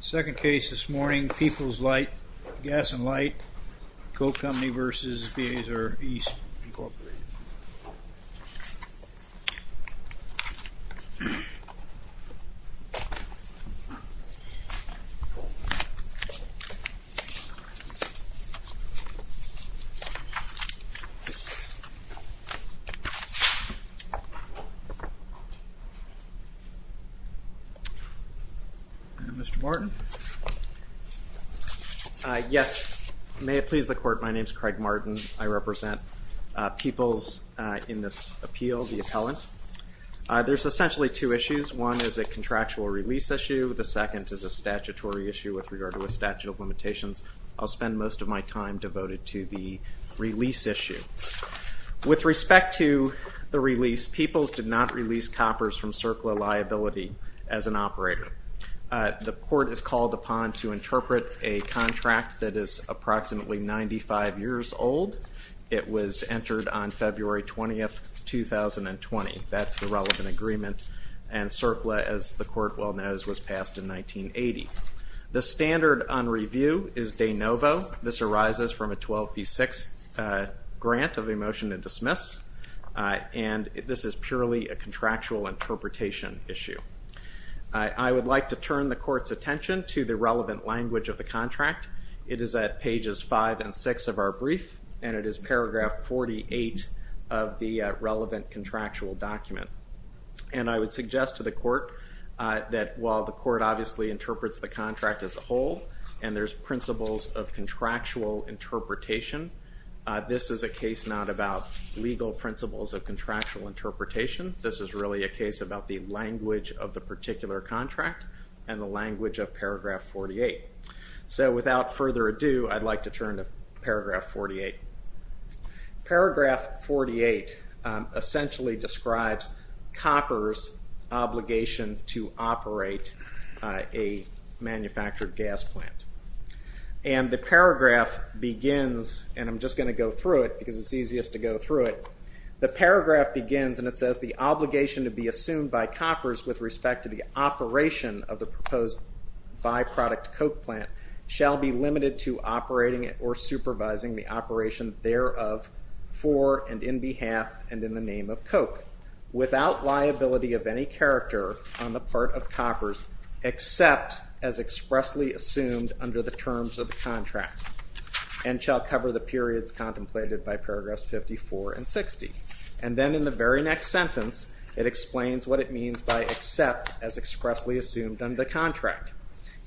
Second case this morning, Peoples Light, Gas and Light, Coke Company v. Beazer East Inc. Mr. Martin. Yes. May it please the Court, my name is Craig Martin. I represent Peoples in this appeal, the appellant. There's essentially two issues. One is a contractual release issue. The second is a statutory issue with regard to a statute of limitations. I'll spend most of my time devoted to the release issue. With respect to the release, Peoples did not release coppers from CERCLA liability as an operator. The Court is called upon to interpret a contract that is approximately 95 years old. It was entered on February 20th, 2020. That's the relevant agreement, and CERCLA, as the Court well knows, was passed in 1980. The standard on review is de novo. This arises from a 12 v. 6 grant of a motion to dismiss, and this is purely a contractual interpretation issue. I would like to turn the Court's attention to the relevant language of the contract. It is at pages 5 and 6 of our brief, and it is paragraph 48 of the relevant contractual document. And I would suggest to the Court that while the Court obviously interprets the contract as a whole, and there's principles of contractual interpretation, this is a case not about legal principles of contractual interpretation. This is really a case about the language of the particular contract and the language of paragraph 48. So without further ado, I'd like to turn to paragraph 48. Paragraph 48 essentially describes coppers' obligation to operate a manufactured gas plant. And the paragraph begins, and I'm just going to go through it because it's easiest to go through it. The paragraph begins, and it says, the obligation to be assumed by coppers with respect to the operation of the proposed by-product coke plant shall be limited to operating it or supervising the operation thereof for and in behalf and in the name of coke, without liability of any character on the part of coppers except as expressly assumed under the terms of the contract, and shall cover the periods contemplated by paragraphs 54 and 60. And then in the very next sentence, it explains what it means by except as expressly assumed under the contract.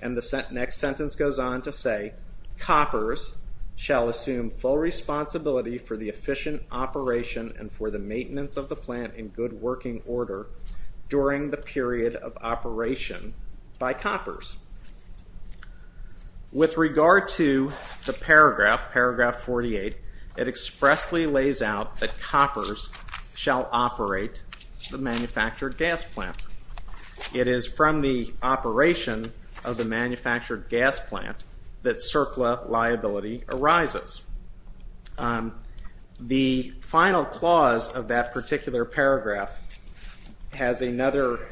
And the next sentence goes on to say, coppers shall assume full responsibility for the efficient operation and for the maintenance of the plant in good working order during the period of operation by coppers. With regard to the paragraph, paragraph 48, it expressly lays out that coppers shall operate the manufactured gas plant. It is from the operation of the manufactured gas plant that CERCLA liability arises. The final clause of that particular paragraph has another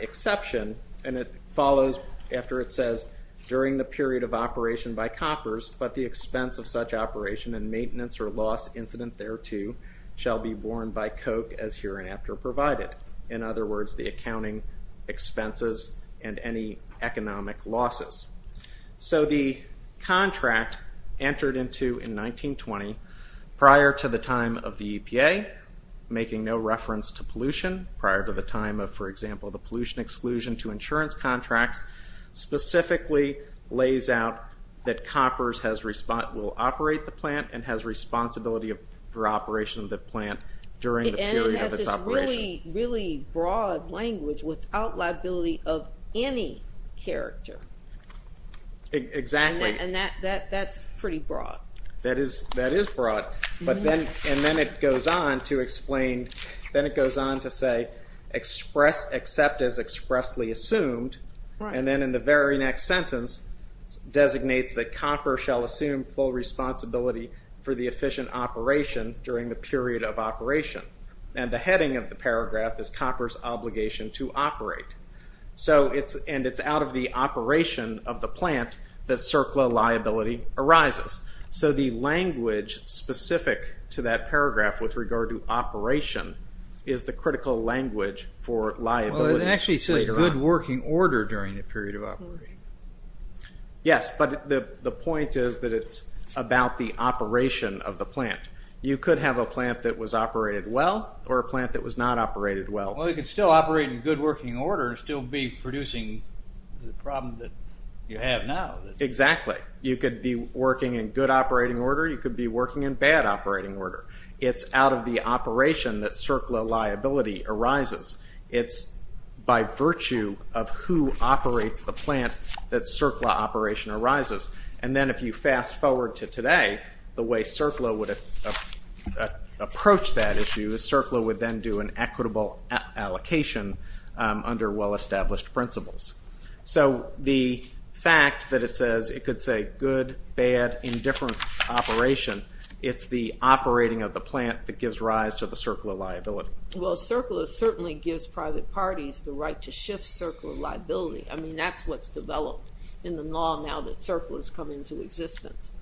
exception, and it follows after it says, during the period of operation by coppers, but the expense of such operation and maintenance or loss incident thereto shall be borne by coke as hereinafter provided. In other words, the accounting expenses and any economic losses. So the contract entered into in 1920, prior to the time of the EPA, making no reference to pollution, prior to the time of, for example, the pollution exclusion to insurance contracts, specifically lays out that coppers will operate the plant and has responsibility for operation of the plant during the period of its operation. And it has this really broad language without liability of any character. Exactly. And that's pretty broad. That is broad. And then it goes on to explain, then it goes on to say, except as expressly assumed, and then in the very next sentence designates that coppers shall assume full responsibility for the efficient operation during the period of operation. And the heading of the paragraph is coppers obligation to operate. So it's, and it's out of the operation of the plant that CERCLA liability arises. So the language specific to that paragraph with regard to operation is the critical language for liability. Well, it actually says good working order during the period of operation. Yes, but the point is that it's about the operation of the plant. You could have a plant that was operated well or a plant that was not operated well. Well, you could still operate in good working order and still be producing the problem that you have now. Exactly. You could be working in good operating order. You could be working in bad operating order. It's out of the operation that CERCLA liability arises. It's by virtue of who operates the plant that CERCLA operation arises. And then if you fast forward to today, the way CERCLA would approach that issue is CERCLA would then do an equitable allocation under well-established principles. So the fact that it says, it could say good, bad, indifferent operation, it's the operating of the plant that gives rise to the CERCLA liability. Well, CERCLA certainly gives private parties the right to shift CERCLA liability. I mean, that's what's developed in the law now that CERCLA has come into existence.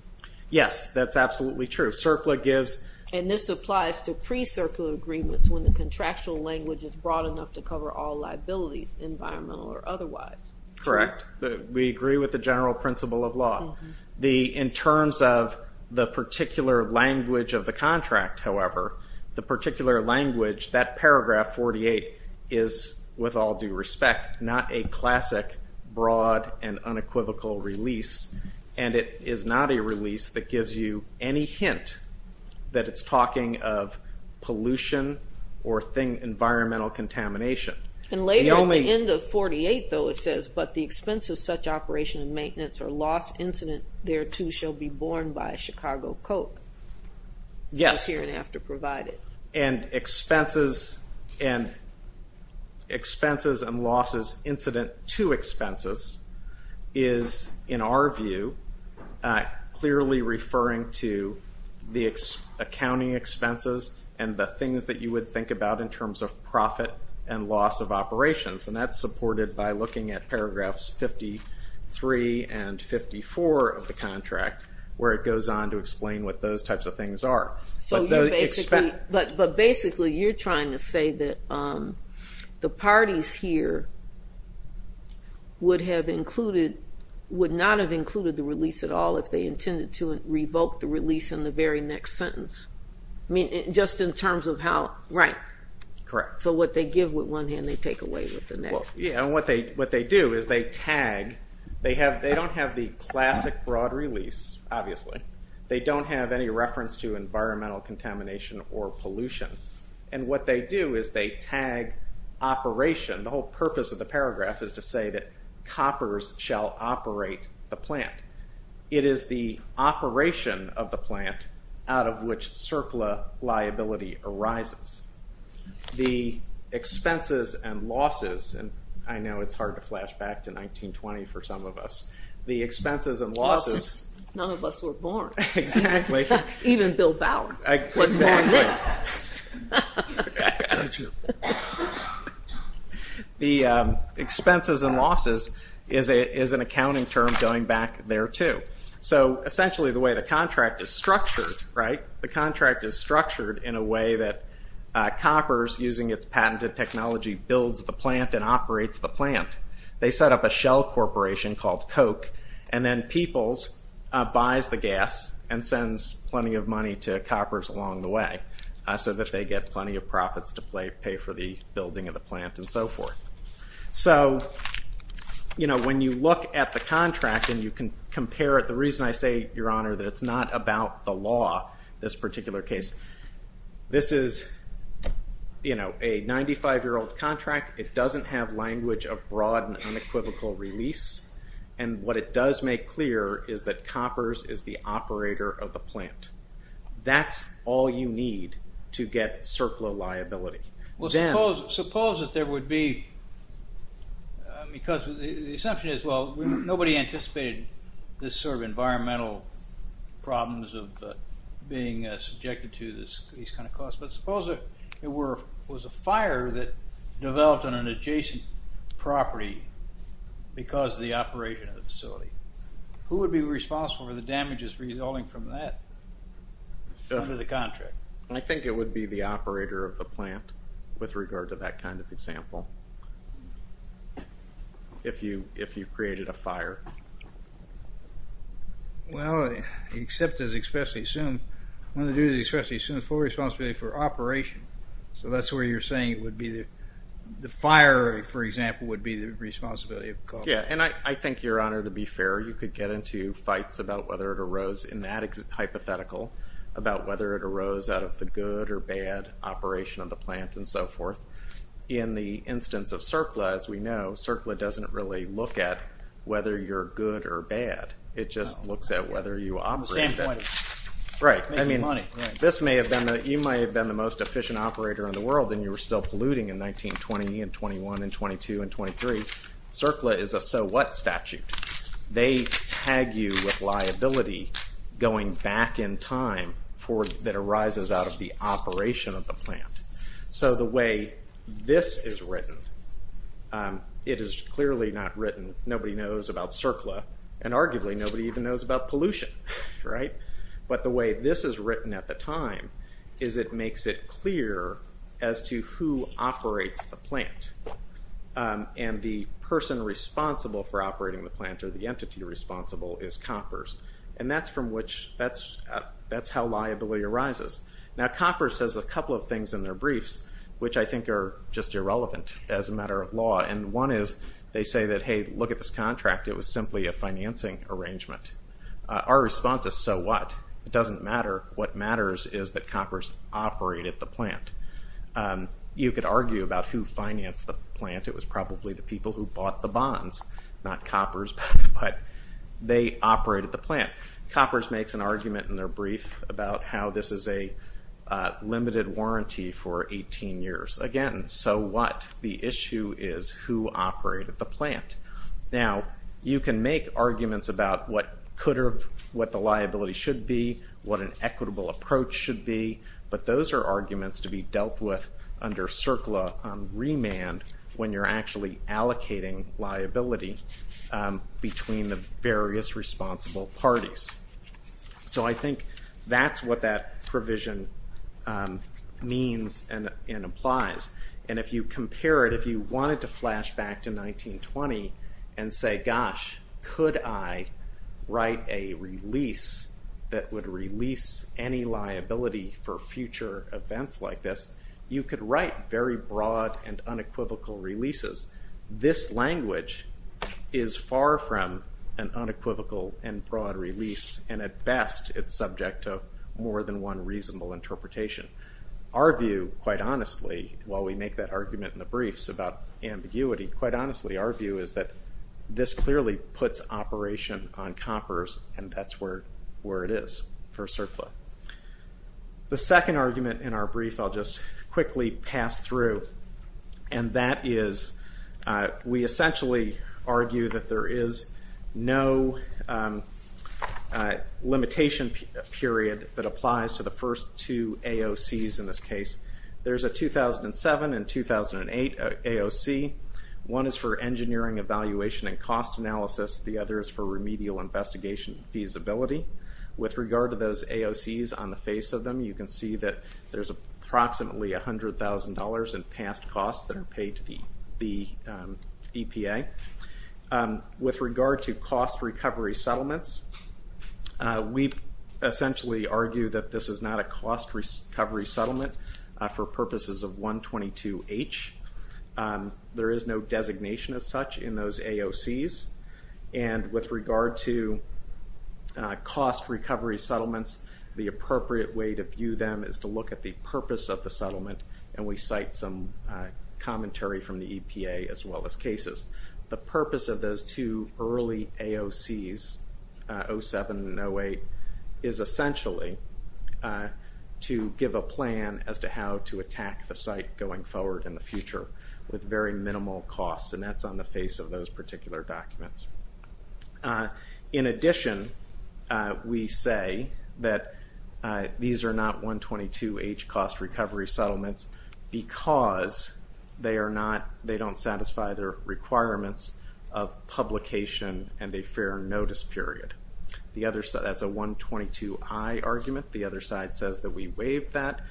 Yes, that's absolutely true. CERCLA gives... And this applies to pre-CERCLA agreements when the contractual language is broad enough to cover all liabilities, environmental or otherwise. Correct. We agree with the general principle of law. In terms of the particular language of the contract, however, the particular language, that paragraph 48 is, with all due respect, not a classic broad and unequivocal release, and it is not a release that gives you any hint that it's talking of pollution or environmental contamination. And later at the end of 48 though, it says, but the expense of such operation and maintenance or loss incident thereto shall be Yes. And expenses and losses incident to expenses is, in our view, clearly referring to the accounting expenses and the things that you would think about in terms of profit and loss of operations. And that's supported by looking at paragraphs 53 and 54 of the what those types of things are. But basically, you're trying to say that the parties here would have included, would not have included the release at all if they intended to revoke the release in the very next sentence. I mean, just in terms of how, right. Correct. So what they give with one hand, they take away with the next. Yeah, and what they do is they tag, they have, they don't have the classic broad release, obviously. They don't have any reference to environmental contamination or pollution. And what they do is they tag operation. The whole purpose of the paragraph is to say that coppers shall operate the plant. It is the operation of the plant out of which CERCLA liability arises. The expenses and losses, and I know it's hard to flash back to 1920 for some of us. The expenses and losses. None of us were born. Exactly. Even Bill Bauer was born then. The expenses and losses is an accounting term going back there too. So essentially the way the contract is structured, right, the contract is structured in a way that the company owns the plant and operates the plant. They set up a shell corporation called Coke and then Peoples buys the gas and sends plenty of money to coppers along the way so that they get plenty of profits to pay for the building of the plant and so forth. So, you know, when you look at the contract and you can compare it, the reason I say, Your Honor, that it's not about the law, this particular case, this is, you know, a 95 year old contract. It doesn't have language of broad and unequivocal release and what it does make clear is that coppers is the operator of the plant. That's all you need to get CERCLA liability. Well, suppose that there would be, because the anticipated this sort of environmental problems of being subjected to these kind of costs, but suppose it was a fire that developed on an adjacent property because the operation of the facility. Who would be responsible for the damages resulting from that under the contract? I think it would be the operator of the plant with regard to that kind of example if you created a contract. Well, except as expressly assumed, one of the duties expressly assumed is full responsibility for operation. So that's where you're saying it would be the fire, for example, would be the responsibility of the cop. Yeah, and I think, Your Honor, to be fair, you could get into fights about whether it arose in that hypothetical, about whether it arose out of the good or bad operation of the plant and so forth. In the instance of CERCLA, as we know, CERCLA doesn't really look at whether you're good or bad. It just looks at whether you operate. Right. I mean, this may have been, you might have been the most efficient operator in the world and you were still polluting in 1920 and 21 and 22 and 23. CERCLA is a so what statute. They tag you with liability going back in time that arises out of the operation of the plant. So the way this is written, it is clearly not written, nobody knows about CERCLA and arguably nobody even knows about pollution. Right. But the way this is written at the time is it makes it clear as to who operates the plant and the person responsible for operating the plant or the entity responsible is COPPERS. And that's from which, that's how liability arises. Now COPPERS says a couple of things in their briefs, which I think are just irrelevant as a matter of law. And one is they say that, hey, look at this contract, it was simply a financing arrangement. Our response is, so what? It doesn't matter. What matters is that COPPERS operated the plant. You could argue about who financed the plant. It was probably the people who bought the bonds, not COPPERS, but they operated the plant. COPPERS makes an argument in So what? The issue is who operated the plant. Now you can make arguments about what could have, what the liability should be, what an equitable approach should be, but those are arguments to be dealt with under CERCLA on remand when you're actually allocating liability between the various responsible parties. So I think that's what that provision means and implies. And if you compare it, if you wanted to flash back to 1920 and say, gosh, could I write a release that would release any liability for future events like this, you could write very broad and unequivocal releases. This language is far from an unequivocal and broad release and at best it's subject to more than one reasonable interpretation. Our view, quite honestly, while we make that argument in the briefs about ambiguity, quite honestly, our view is that this clearly puts operation on COPPERS and that's where it is for CERCLA. The second argument in our brief I'll just quickly pass through and that is we essentially argue that there is no limitation period that applies to the first two AOCs in this case. There's a 2007 and 2008 AOC. One is for engineering evaluation and cost analysis, the other is for remedial investigation feasibility. With regard to those AOCs on the face of them, you can see that there's approximately $100,000 in past costs that are paid to the EPA. With regard to cost recovery settlements, we essentially argue that this is not a cost recovery settlement for purposes of 122H. There is no designation as such in those AOCs and with regard to cost recovery settlements, the purpose of the settlement and we cite some commentary from the EPA as well as cases. The purpose of those two early AOCs, 07 and 08, is essentially to give a plan as to how to attack the site going forward in the future with very minimal costs and that's on the face of those particular documents. In addition, we say that these are not 122H cost recovery settlements because they are not, they don't satisfy their requirements of publication and a fair notice period. The other side, that's a 122I argument, the other side says that we waived that.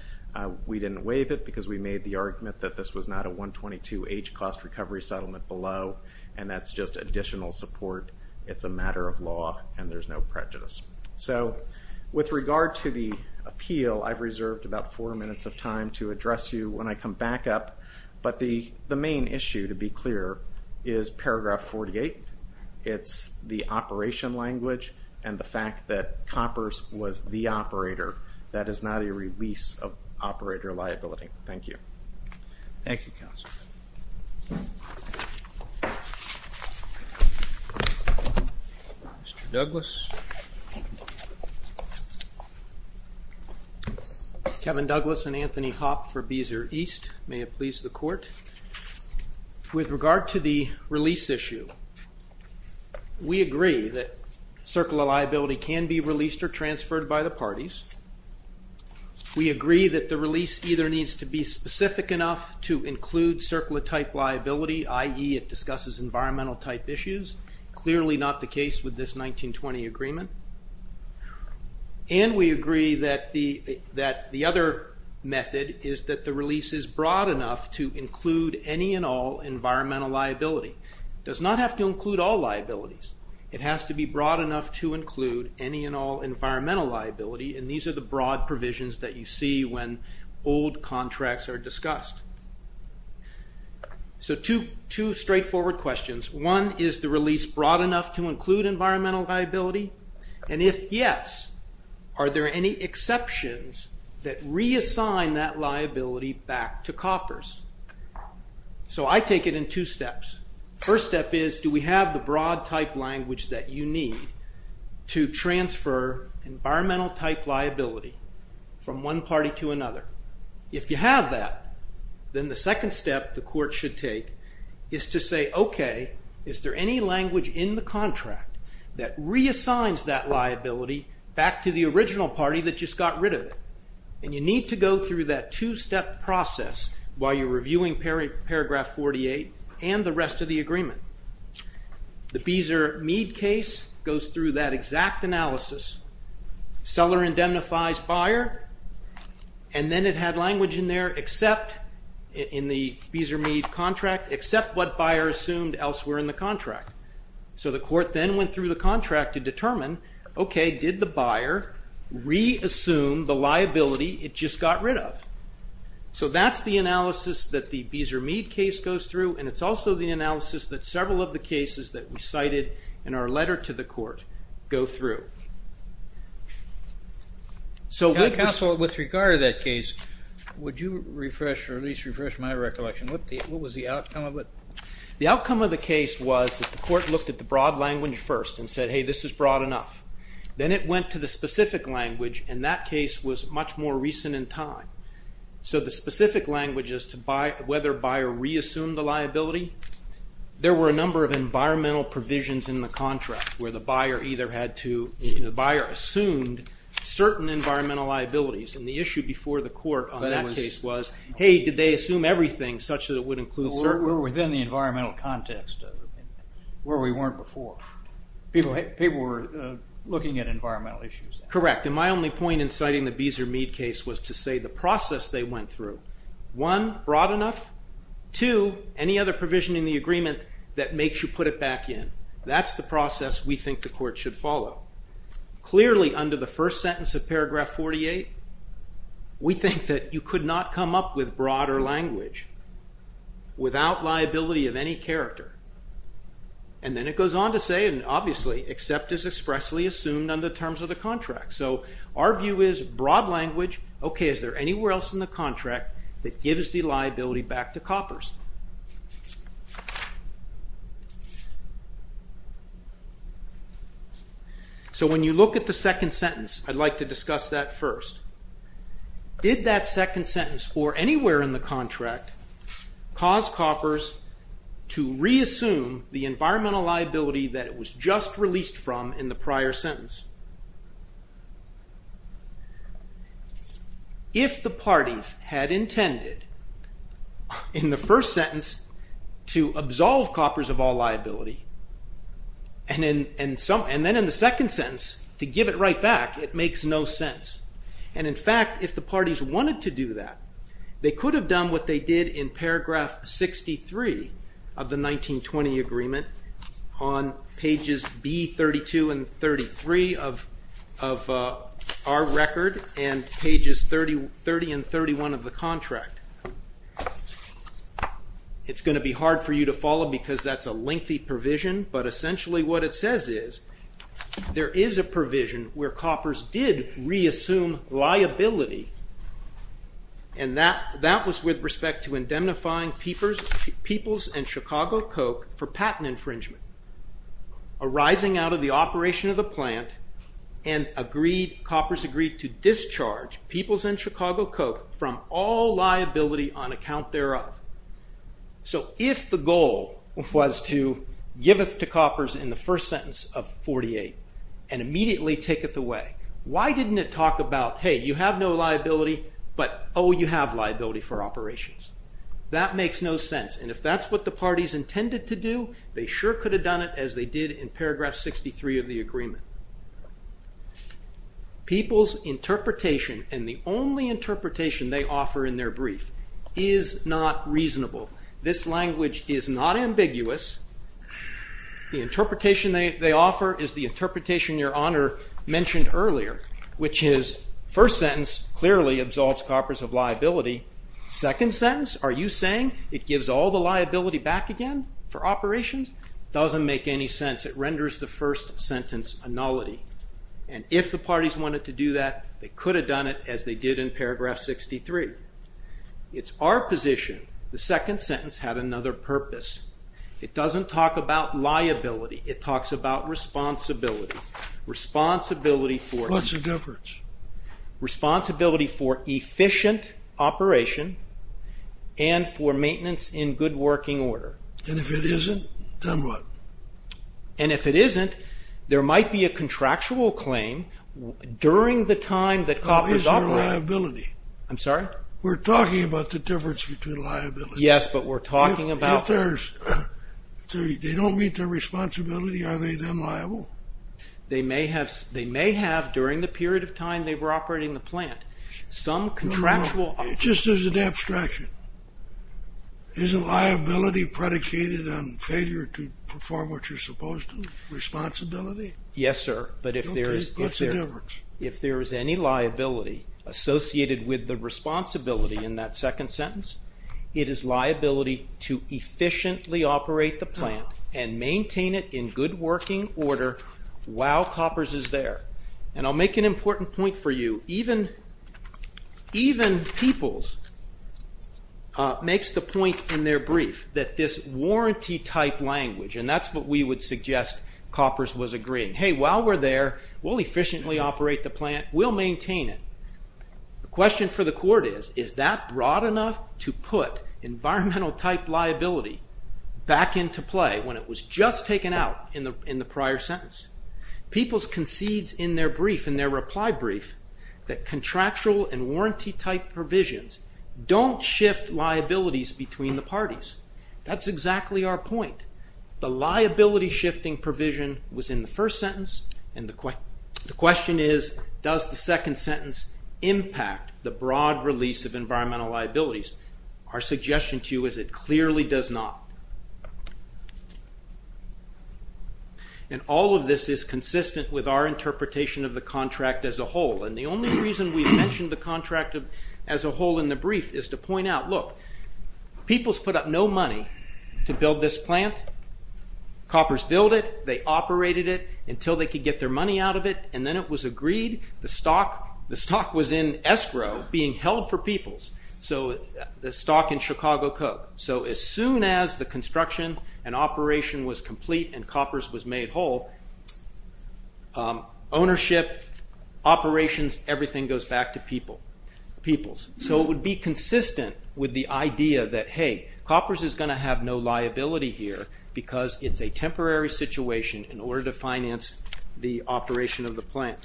We didn't waive it because we made the argument that this was not a 122H cost recovery settlement below and that's just additional support. It's a no prejudice. So with regard to the appeal, I've reserved about four minutes of time to address you when I come back up, but the main issue to be clear is paragraph 48. It's the operation language and the fact that Coppers was the operator. That is not a release of operator liability. Thank you. Thank you. Kevin Douglas and Anthony Hopp for Beezer East. May it please the court. With regard to the release issue, we agree that circular liability can be released or transferred by the parties. We agree that the release either needs to be specific enough to include circular type liability, i.e. it has to be in agreement, and we agree that the other method is that the release is broad enough to include any and all environmental liability. It does not have to include all liabilities. It has to be broad enough to include any and all environmental liability and these are the broad provisions that you see when old contracts are discussed. So two straightforward questions. One, is the release broad enough to include environmental liability? And if yes, are there any exceptions that reassign that liability back to Coppers? So I take it in two steps. The first step is, do we have the broad type language that you need to transfer environmental type liability from one party to another? If you have that, then the second step the reassigns that liability back to the original party that just got rid of it. And you need to go through that two-step process while you're reviewing paragraph 48 and the rest of the agreement. The Beezer Mead case goes through that exact analysis. Seller indemnifies buyer and then it had language in there except in the Beezer contract to determine, okay, did the buyer reassume the liability it just got rid of? So that's the analysis that the Beezer Mead case goes through and it's also the analysis that several of the cases that we cited in our letter to the court go through. So with regard to that case, would you refresh or at least refresh my recollection? What was the outcome of it? The outcome of the case was that the court looked at the broad language first and said, hey, this is broad enough. Then it went to the specific language and that case was much more recent in time. So the specific language as to whether buyer reassumed the liability, there were a number of environmental provisions in the contract where the buyer either had to, the buyer assumed certain environmental liabilities and the issue before the We're within the environmental context where we weren't before. People were looking at environmental issues. Correct, and my only point in citing the Beezer Mead case was to say the process they went through. One, broad enough. Two, any other provision in the agreement that makes you put it back in. That's the process we think the court should follow. Clearly under the first sentence of paragraph 48, we think that you could not come up with broader language without liability of any character. Then it goes on to say, and obviously, except as expressly assumed under the terms of the contract. So our view is broad language, okay, is there anywhere else in the contract that gives the liability back to coppers? So when you look at the second sentence, I'd like to discuss that first. Did that second sentence, or anywhere in the contract, cause coppers to reassume the environmental liability that it was just released from in the prior sentence? If the parties had in the first sentence to absolve coppers of all liability, and then in the second sentence, to give it right back, it makes no sense. And in fact, if the parties wanted to do that, they could have done what they did in paragraph 63 of the 1920 agreement on pages B32 and 33 of our record, and pages 30 and 31 of the contract. It's going to be hard for you to follow because that's a lengthy provision, but essentially what it says is, there is a provision where coppers did reassume liability, and that was with respect to indemnifying Peoples and Chicago Coke for patent infringement arising out of the operation of the plant, and coppers agreed to discharge Peoples and Chicago Coke from all liability on account thereof. So if the goal was to give it to coppers in the first sentence of 48, and immediately take it away, why didn't it talk about, hey, you have no liability, but oh, you have liability for operations. That makes no sense, and if that's what the parties intended to do, they sure could have done it as they did in paragraph 63 of the agreement. Peoples' interpretation, and the only interpretation they offer in their brief, is not reasonable. This language is not ambiguous. The interpretation they offer is the interpretation Your Honor mentioned earlier, which is, first sentence clearly absolves coppers of liability. Second sentence, are you saying it gives all the liability back again for operations? Doesn't make any sense. It renders the first sentence a nullity, and if the parties wanted to do that, they could have done it as they did in paragraph 63. It's our position, the second sentence had another purpose. It doesn't talk about liability, it talks about responsibility. Responsibility for... What's the difference? Responsibility for efficient operation, and for maintenance in good working order. And if it isn't, then what? And if it isn't, there might be a contractual claim during the time that coppers operate. I'm sorry? We're talking about the difference between liability. Yes, but we're talking about... If they don't meet their responsibility, are they then liable? They may have, during the period of time they were operating the plant, some contractual... No, no, no, just as an abstraction. Isn't liability predicated on failure to perform what you're supposed to? Responsibility? Yes, sir, but if there is... Okay, what's the difference? If there is any liability associated with the responsibility in that second sentence, it is liability to efficiently operate the plant and maintain it in good working order while coppers is there. And I'll make an important point for you. Even Peoples makes the point in their brief that this warranty type language, and that's what we would suggest coppers was agreeing. Hey, while we're there, we'll efficiently operate the plant, we'll maintain it. The question for the court is, is that broad enough to put environmental type liability back into play when it was just taken out in the prior sentence? Peoples concedes in their brief, in their reply brief, that contractual and warranty type provisions don't shift liabilities between the parties. That's exactly our point. The liability shifting provision was in the first sentence, and the question is, does the second sentence impact the broad release of environmental liabilities? Our suggestion to you is it clearly does not. And all of this is consistent with our interpretation of the contract as a whole, and the only reason we've mentioned the contract as a whole in the brief is to point out, look, Peoples put up no money to build this plant. Coppers built it, they operated it until they could get their money out of it, and then it was agreed. The stock was in escrow, being held for Peoples. The stock in Chicago Coke. So as soon as the construction and operation was complete and Coppers was made whole, ownership, operations, everything goes back to Peoples. So it would be consistent with the idea that, hey, Coppers is going to have no liability here because it's a temporary situation in order to finance the operation of the plant.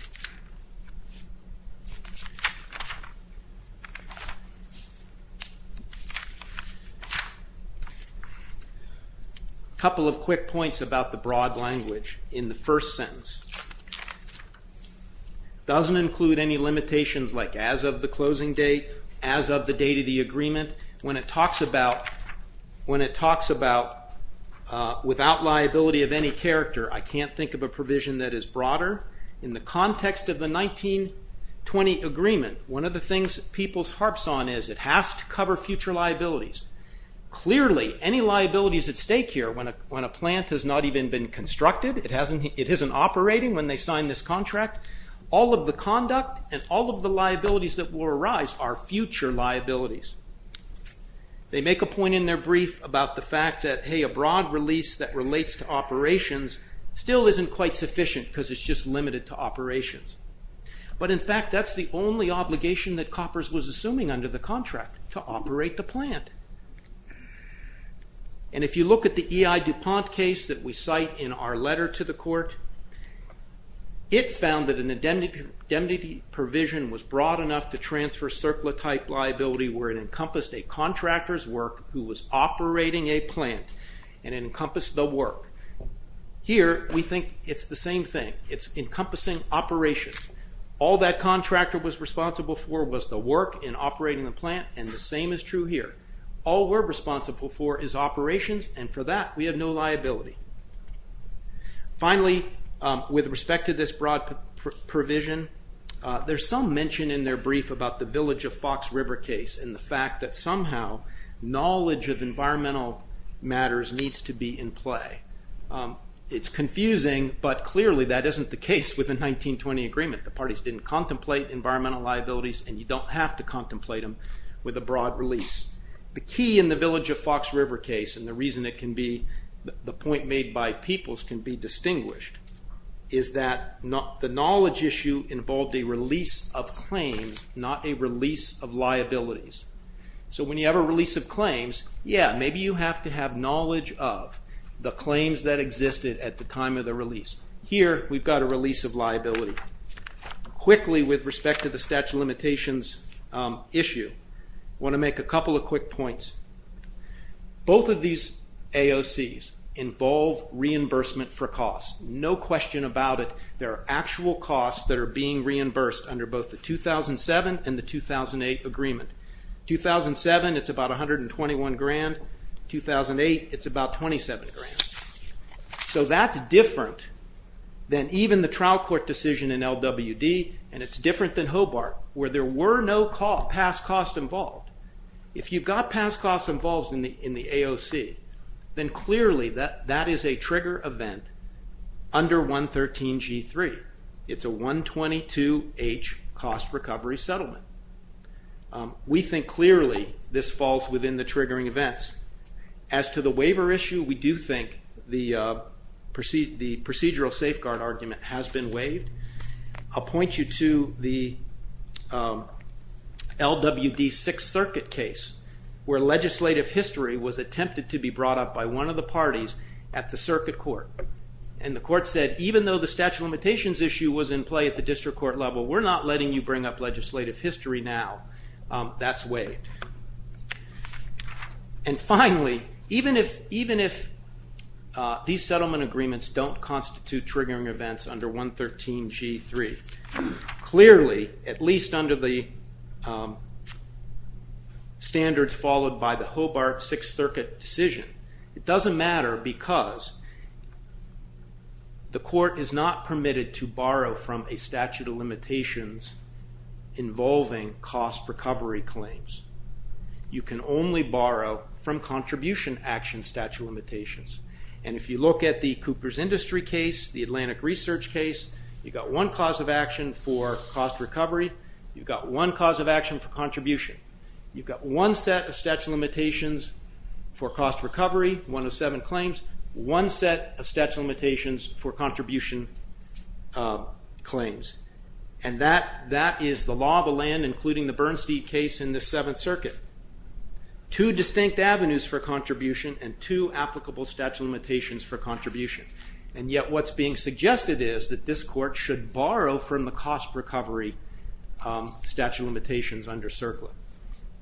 A couple of quick points about the broad language in the first sentence. It doesn't include any limitations like as of the closing date, as of the date of the agreement. When it talks about without liability of any character, I can't think of a provision that is broader. In the context of the 1920 agreement, one of the things that Peoples harps on is it has to cover future liabilities. Clearly, any liabilities at stake here when a plant has not even been constructed, it isn't operating when they sign this contract, all of the conduct and all of the liabilities that will arise are future liabilities. They make a point in their brief about the fact that, hey, a broad release that relates to operations still isn't quite sufficient because it's just limited to operations. But in fact, that's the only obligation that Coppers was assuming under the contract, to operate the plant. And if you look at the E.I. DuPont case that we cite in our letter to the court, it found that an indemnity provision was broad enough to transfer surplus type liability where it encompassed a contractor's work who was operating a plant and it encompassed the work. Here, we think it's the same thing. It's encompassing operations. All that contractor was responsible for was the work in operating the plant and the same is true here. All we're responsible for is operations and for that, we have no liability. Finally, with respect to this broad provision, there's some mention in their brief about the Village of Fox River case and the fact that somehow knowledge of environmental matters needs to be in play. It's confusing, but clearly that isn't the case with the 1920 agreement. The parties didn't contemplate environmental liabilities and you don't have to contemplate them with a broad release. The key in the Village of Fox River case, and the reason the point made by Peoples can be distinguished, is that the knowledge issue involved a release of claims, not a release of liabilities. So when you have a release of claims, yeah, maybe you have to have knowledge of the claims that existed at the time of the release. Here, we've got a release of liability. Quickly, with respect to the statute of limitations issue, I want to make a couple of quick points. Both of these AOCs involve reimbursement for costs. No question about it, there are actual costs that are being reimbursed under both the 2007 and the 2008 agreement. 2007, it's about $121,000. 2008, it's about $27,000. So that's different than even the trial court decision in LWD and it's different than Hobart, where there were no past costs involved. If you've got past costs involved in the AOC, then clearly that is a trigger event under 113 G3. It's a 122H cost recovery settlement. We think clearly this falls within the triggering events. As to the waiver issue, we do think the procedural safeguard argument has been waived. I'll point you to the LWD Sixth Circuit case, where legislative history was attempted to be brought up by one of the parties at the circuit court. And the court said, even though the statute of limitations issue was in play at the district court level, we're not letting you bring up legislative history now. That's waived. And finally, even if these settlement agreements don't constitute triggering events under 113 G3, clearly, at least under the standards followed by the Hobart Sixth Circuit decision, it doesn't matter because the court is not permitted to borrow from a statute of limitations involving cost recovery claims. You can only borrow from contribution action statute of limitations. And if you look at the Cooper's Industry case, the Atlantic Research case, you've got one cause of action for cost recovery. You've got one cause of action for contribution. You've got one set of statute of limitations for cost recovery, one of seven claims, one set of statute of limitations for contribution claims. And that is the law of the land, including the Bernstein case in the Seventh Circuit. Two distinct avenues for contribution and two applicable statute of limitations for contribution. And yet what's being suggested is that this court should borrow from the cost recovery statute of limitations under CERCLA.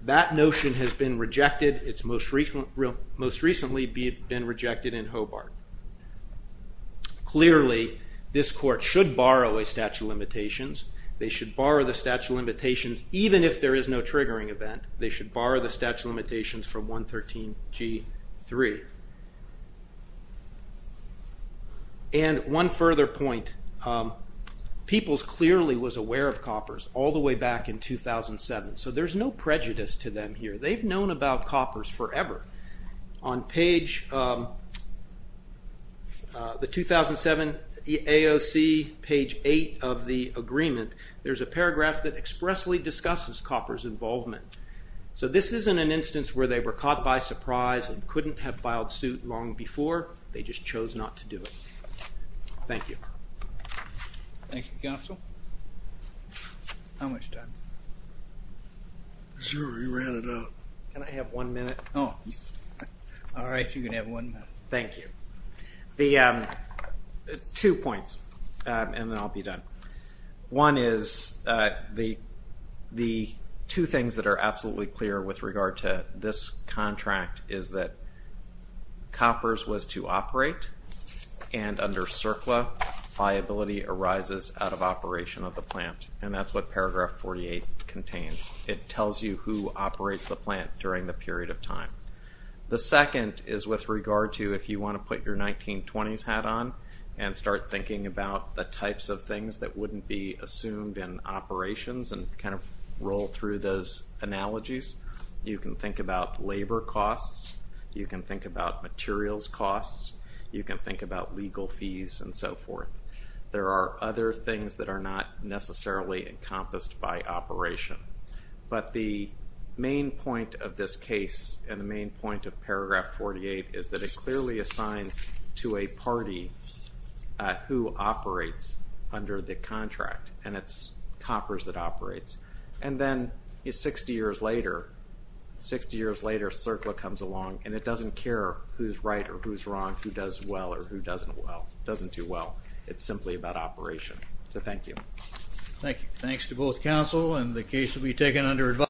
That notion has been rejected. It's most recently been rejected in Hobart. Clearly, this court should borrow a statute of limitations. They should borrow the statute of limitations even if there is no triggering event. They should borrow the statute of limitations from 113G.3. And one further point, Peoples clearly was aware of Copper's all the way back in 2007, so there's no prejudice to them here. They've known about Copper's forever. On page, the 2007 AOC, page eight of the agreement, there's a paragraph that expressly discusses Copper's involvement. So this isn't an instance where they were caught by surprise and couldn't have filed suit long before, they just chose not to do it. Thank you. Thank you, Counsel. How much time? Sure, you ran it out. Can I have one minute? Oh, all right, you can have one minute. Thank you. The two points, and then I'll be done. One is the two things that are absolutely clear with regard to this contract is that Copper's was to operate and under CERCLA, liability arises out of operation of the plant, and that's what paragraph 48 contains. It tells you who operates the plant during the period of time. The second is with regard to if you want to put your 1920s hat on and start thinking about the types of things that wouldn't be assumed in operations and kind of roll through those analogies. You can think about labor costs. You can think about materials costs. You can think about legal fees and so forth. There are other things that are not necessarily encompassed by operation, but the main point of this case and the main point of paragraph 48 is that it clearly assigns to a party who operates under the contract, and it's Copper's that operates. And then 60 years later, CERCLA comes along and it doesn't care who's right or who's wrong, who does well or who doesn't well, doesn't do well. It's simply about operation. So thank you. Thank you. Thanks to both counsel and the case will be taken under advice.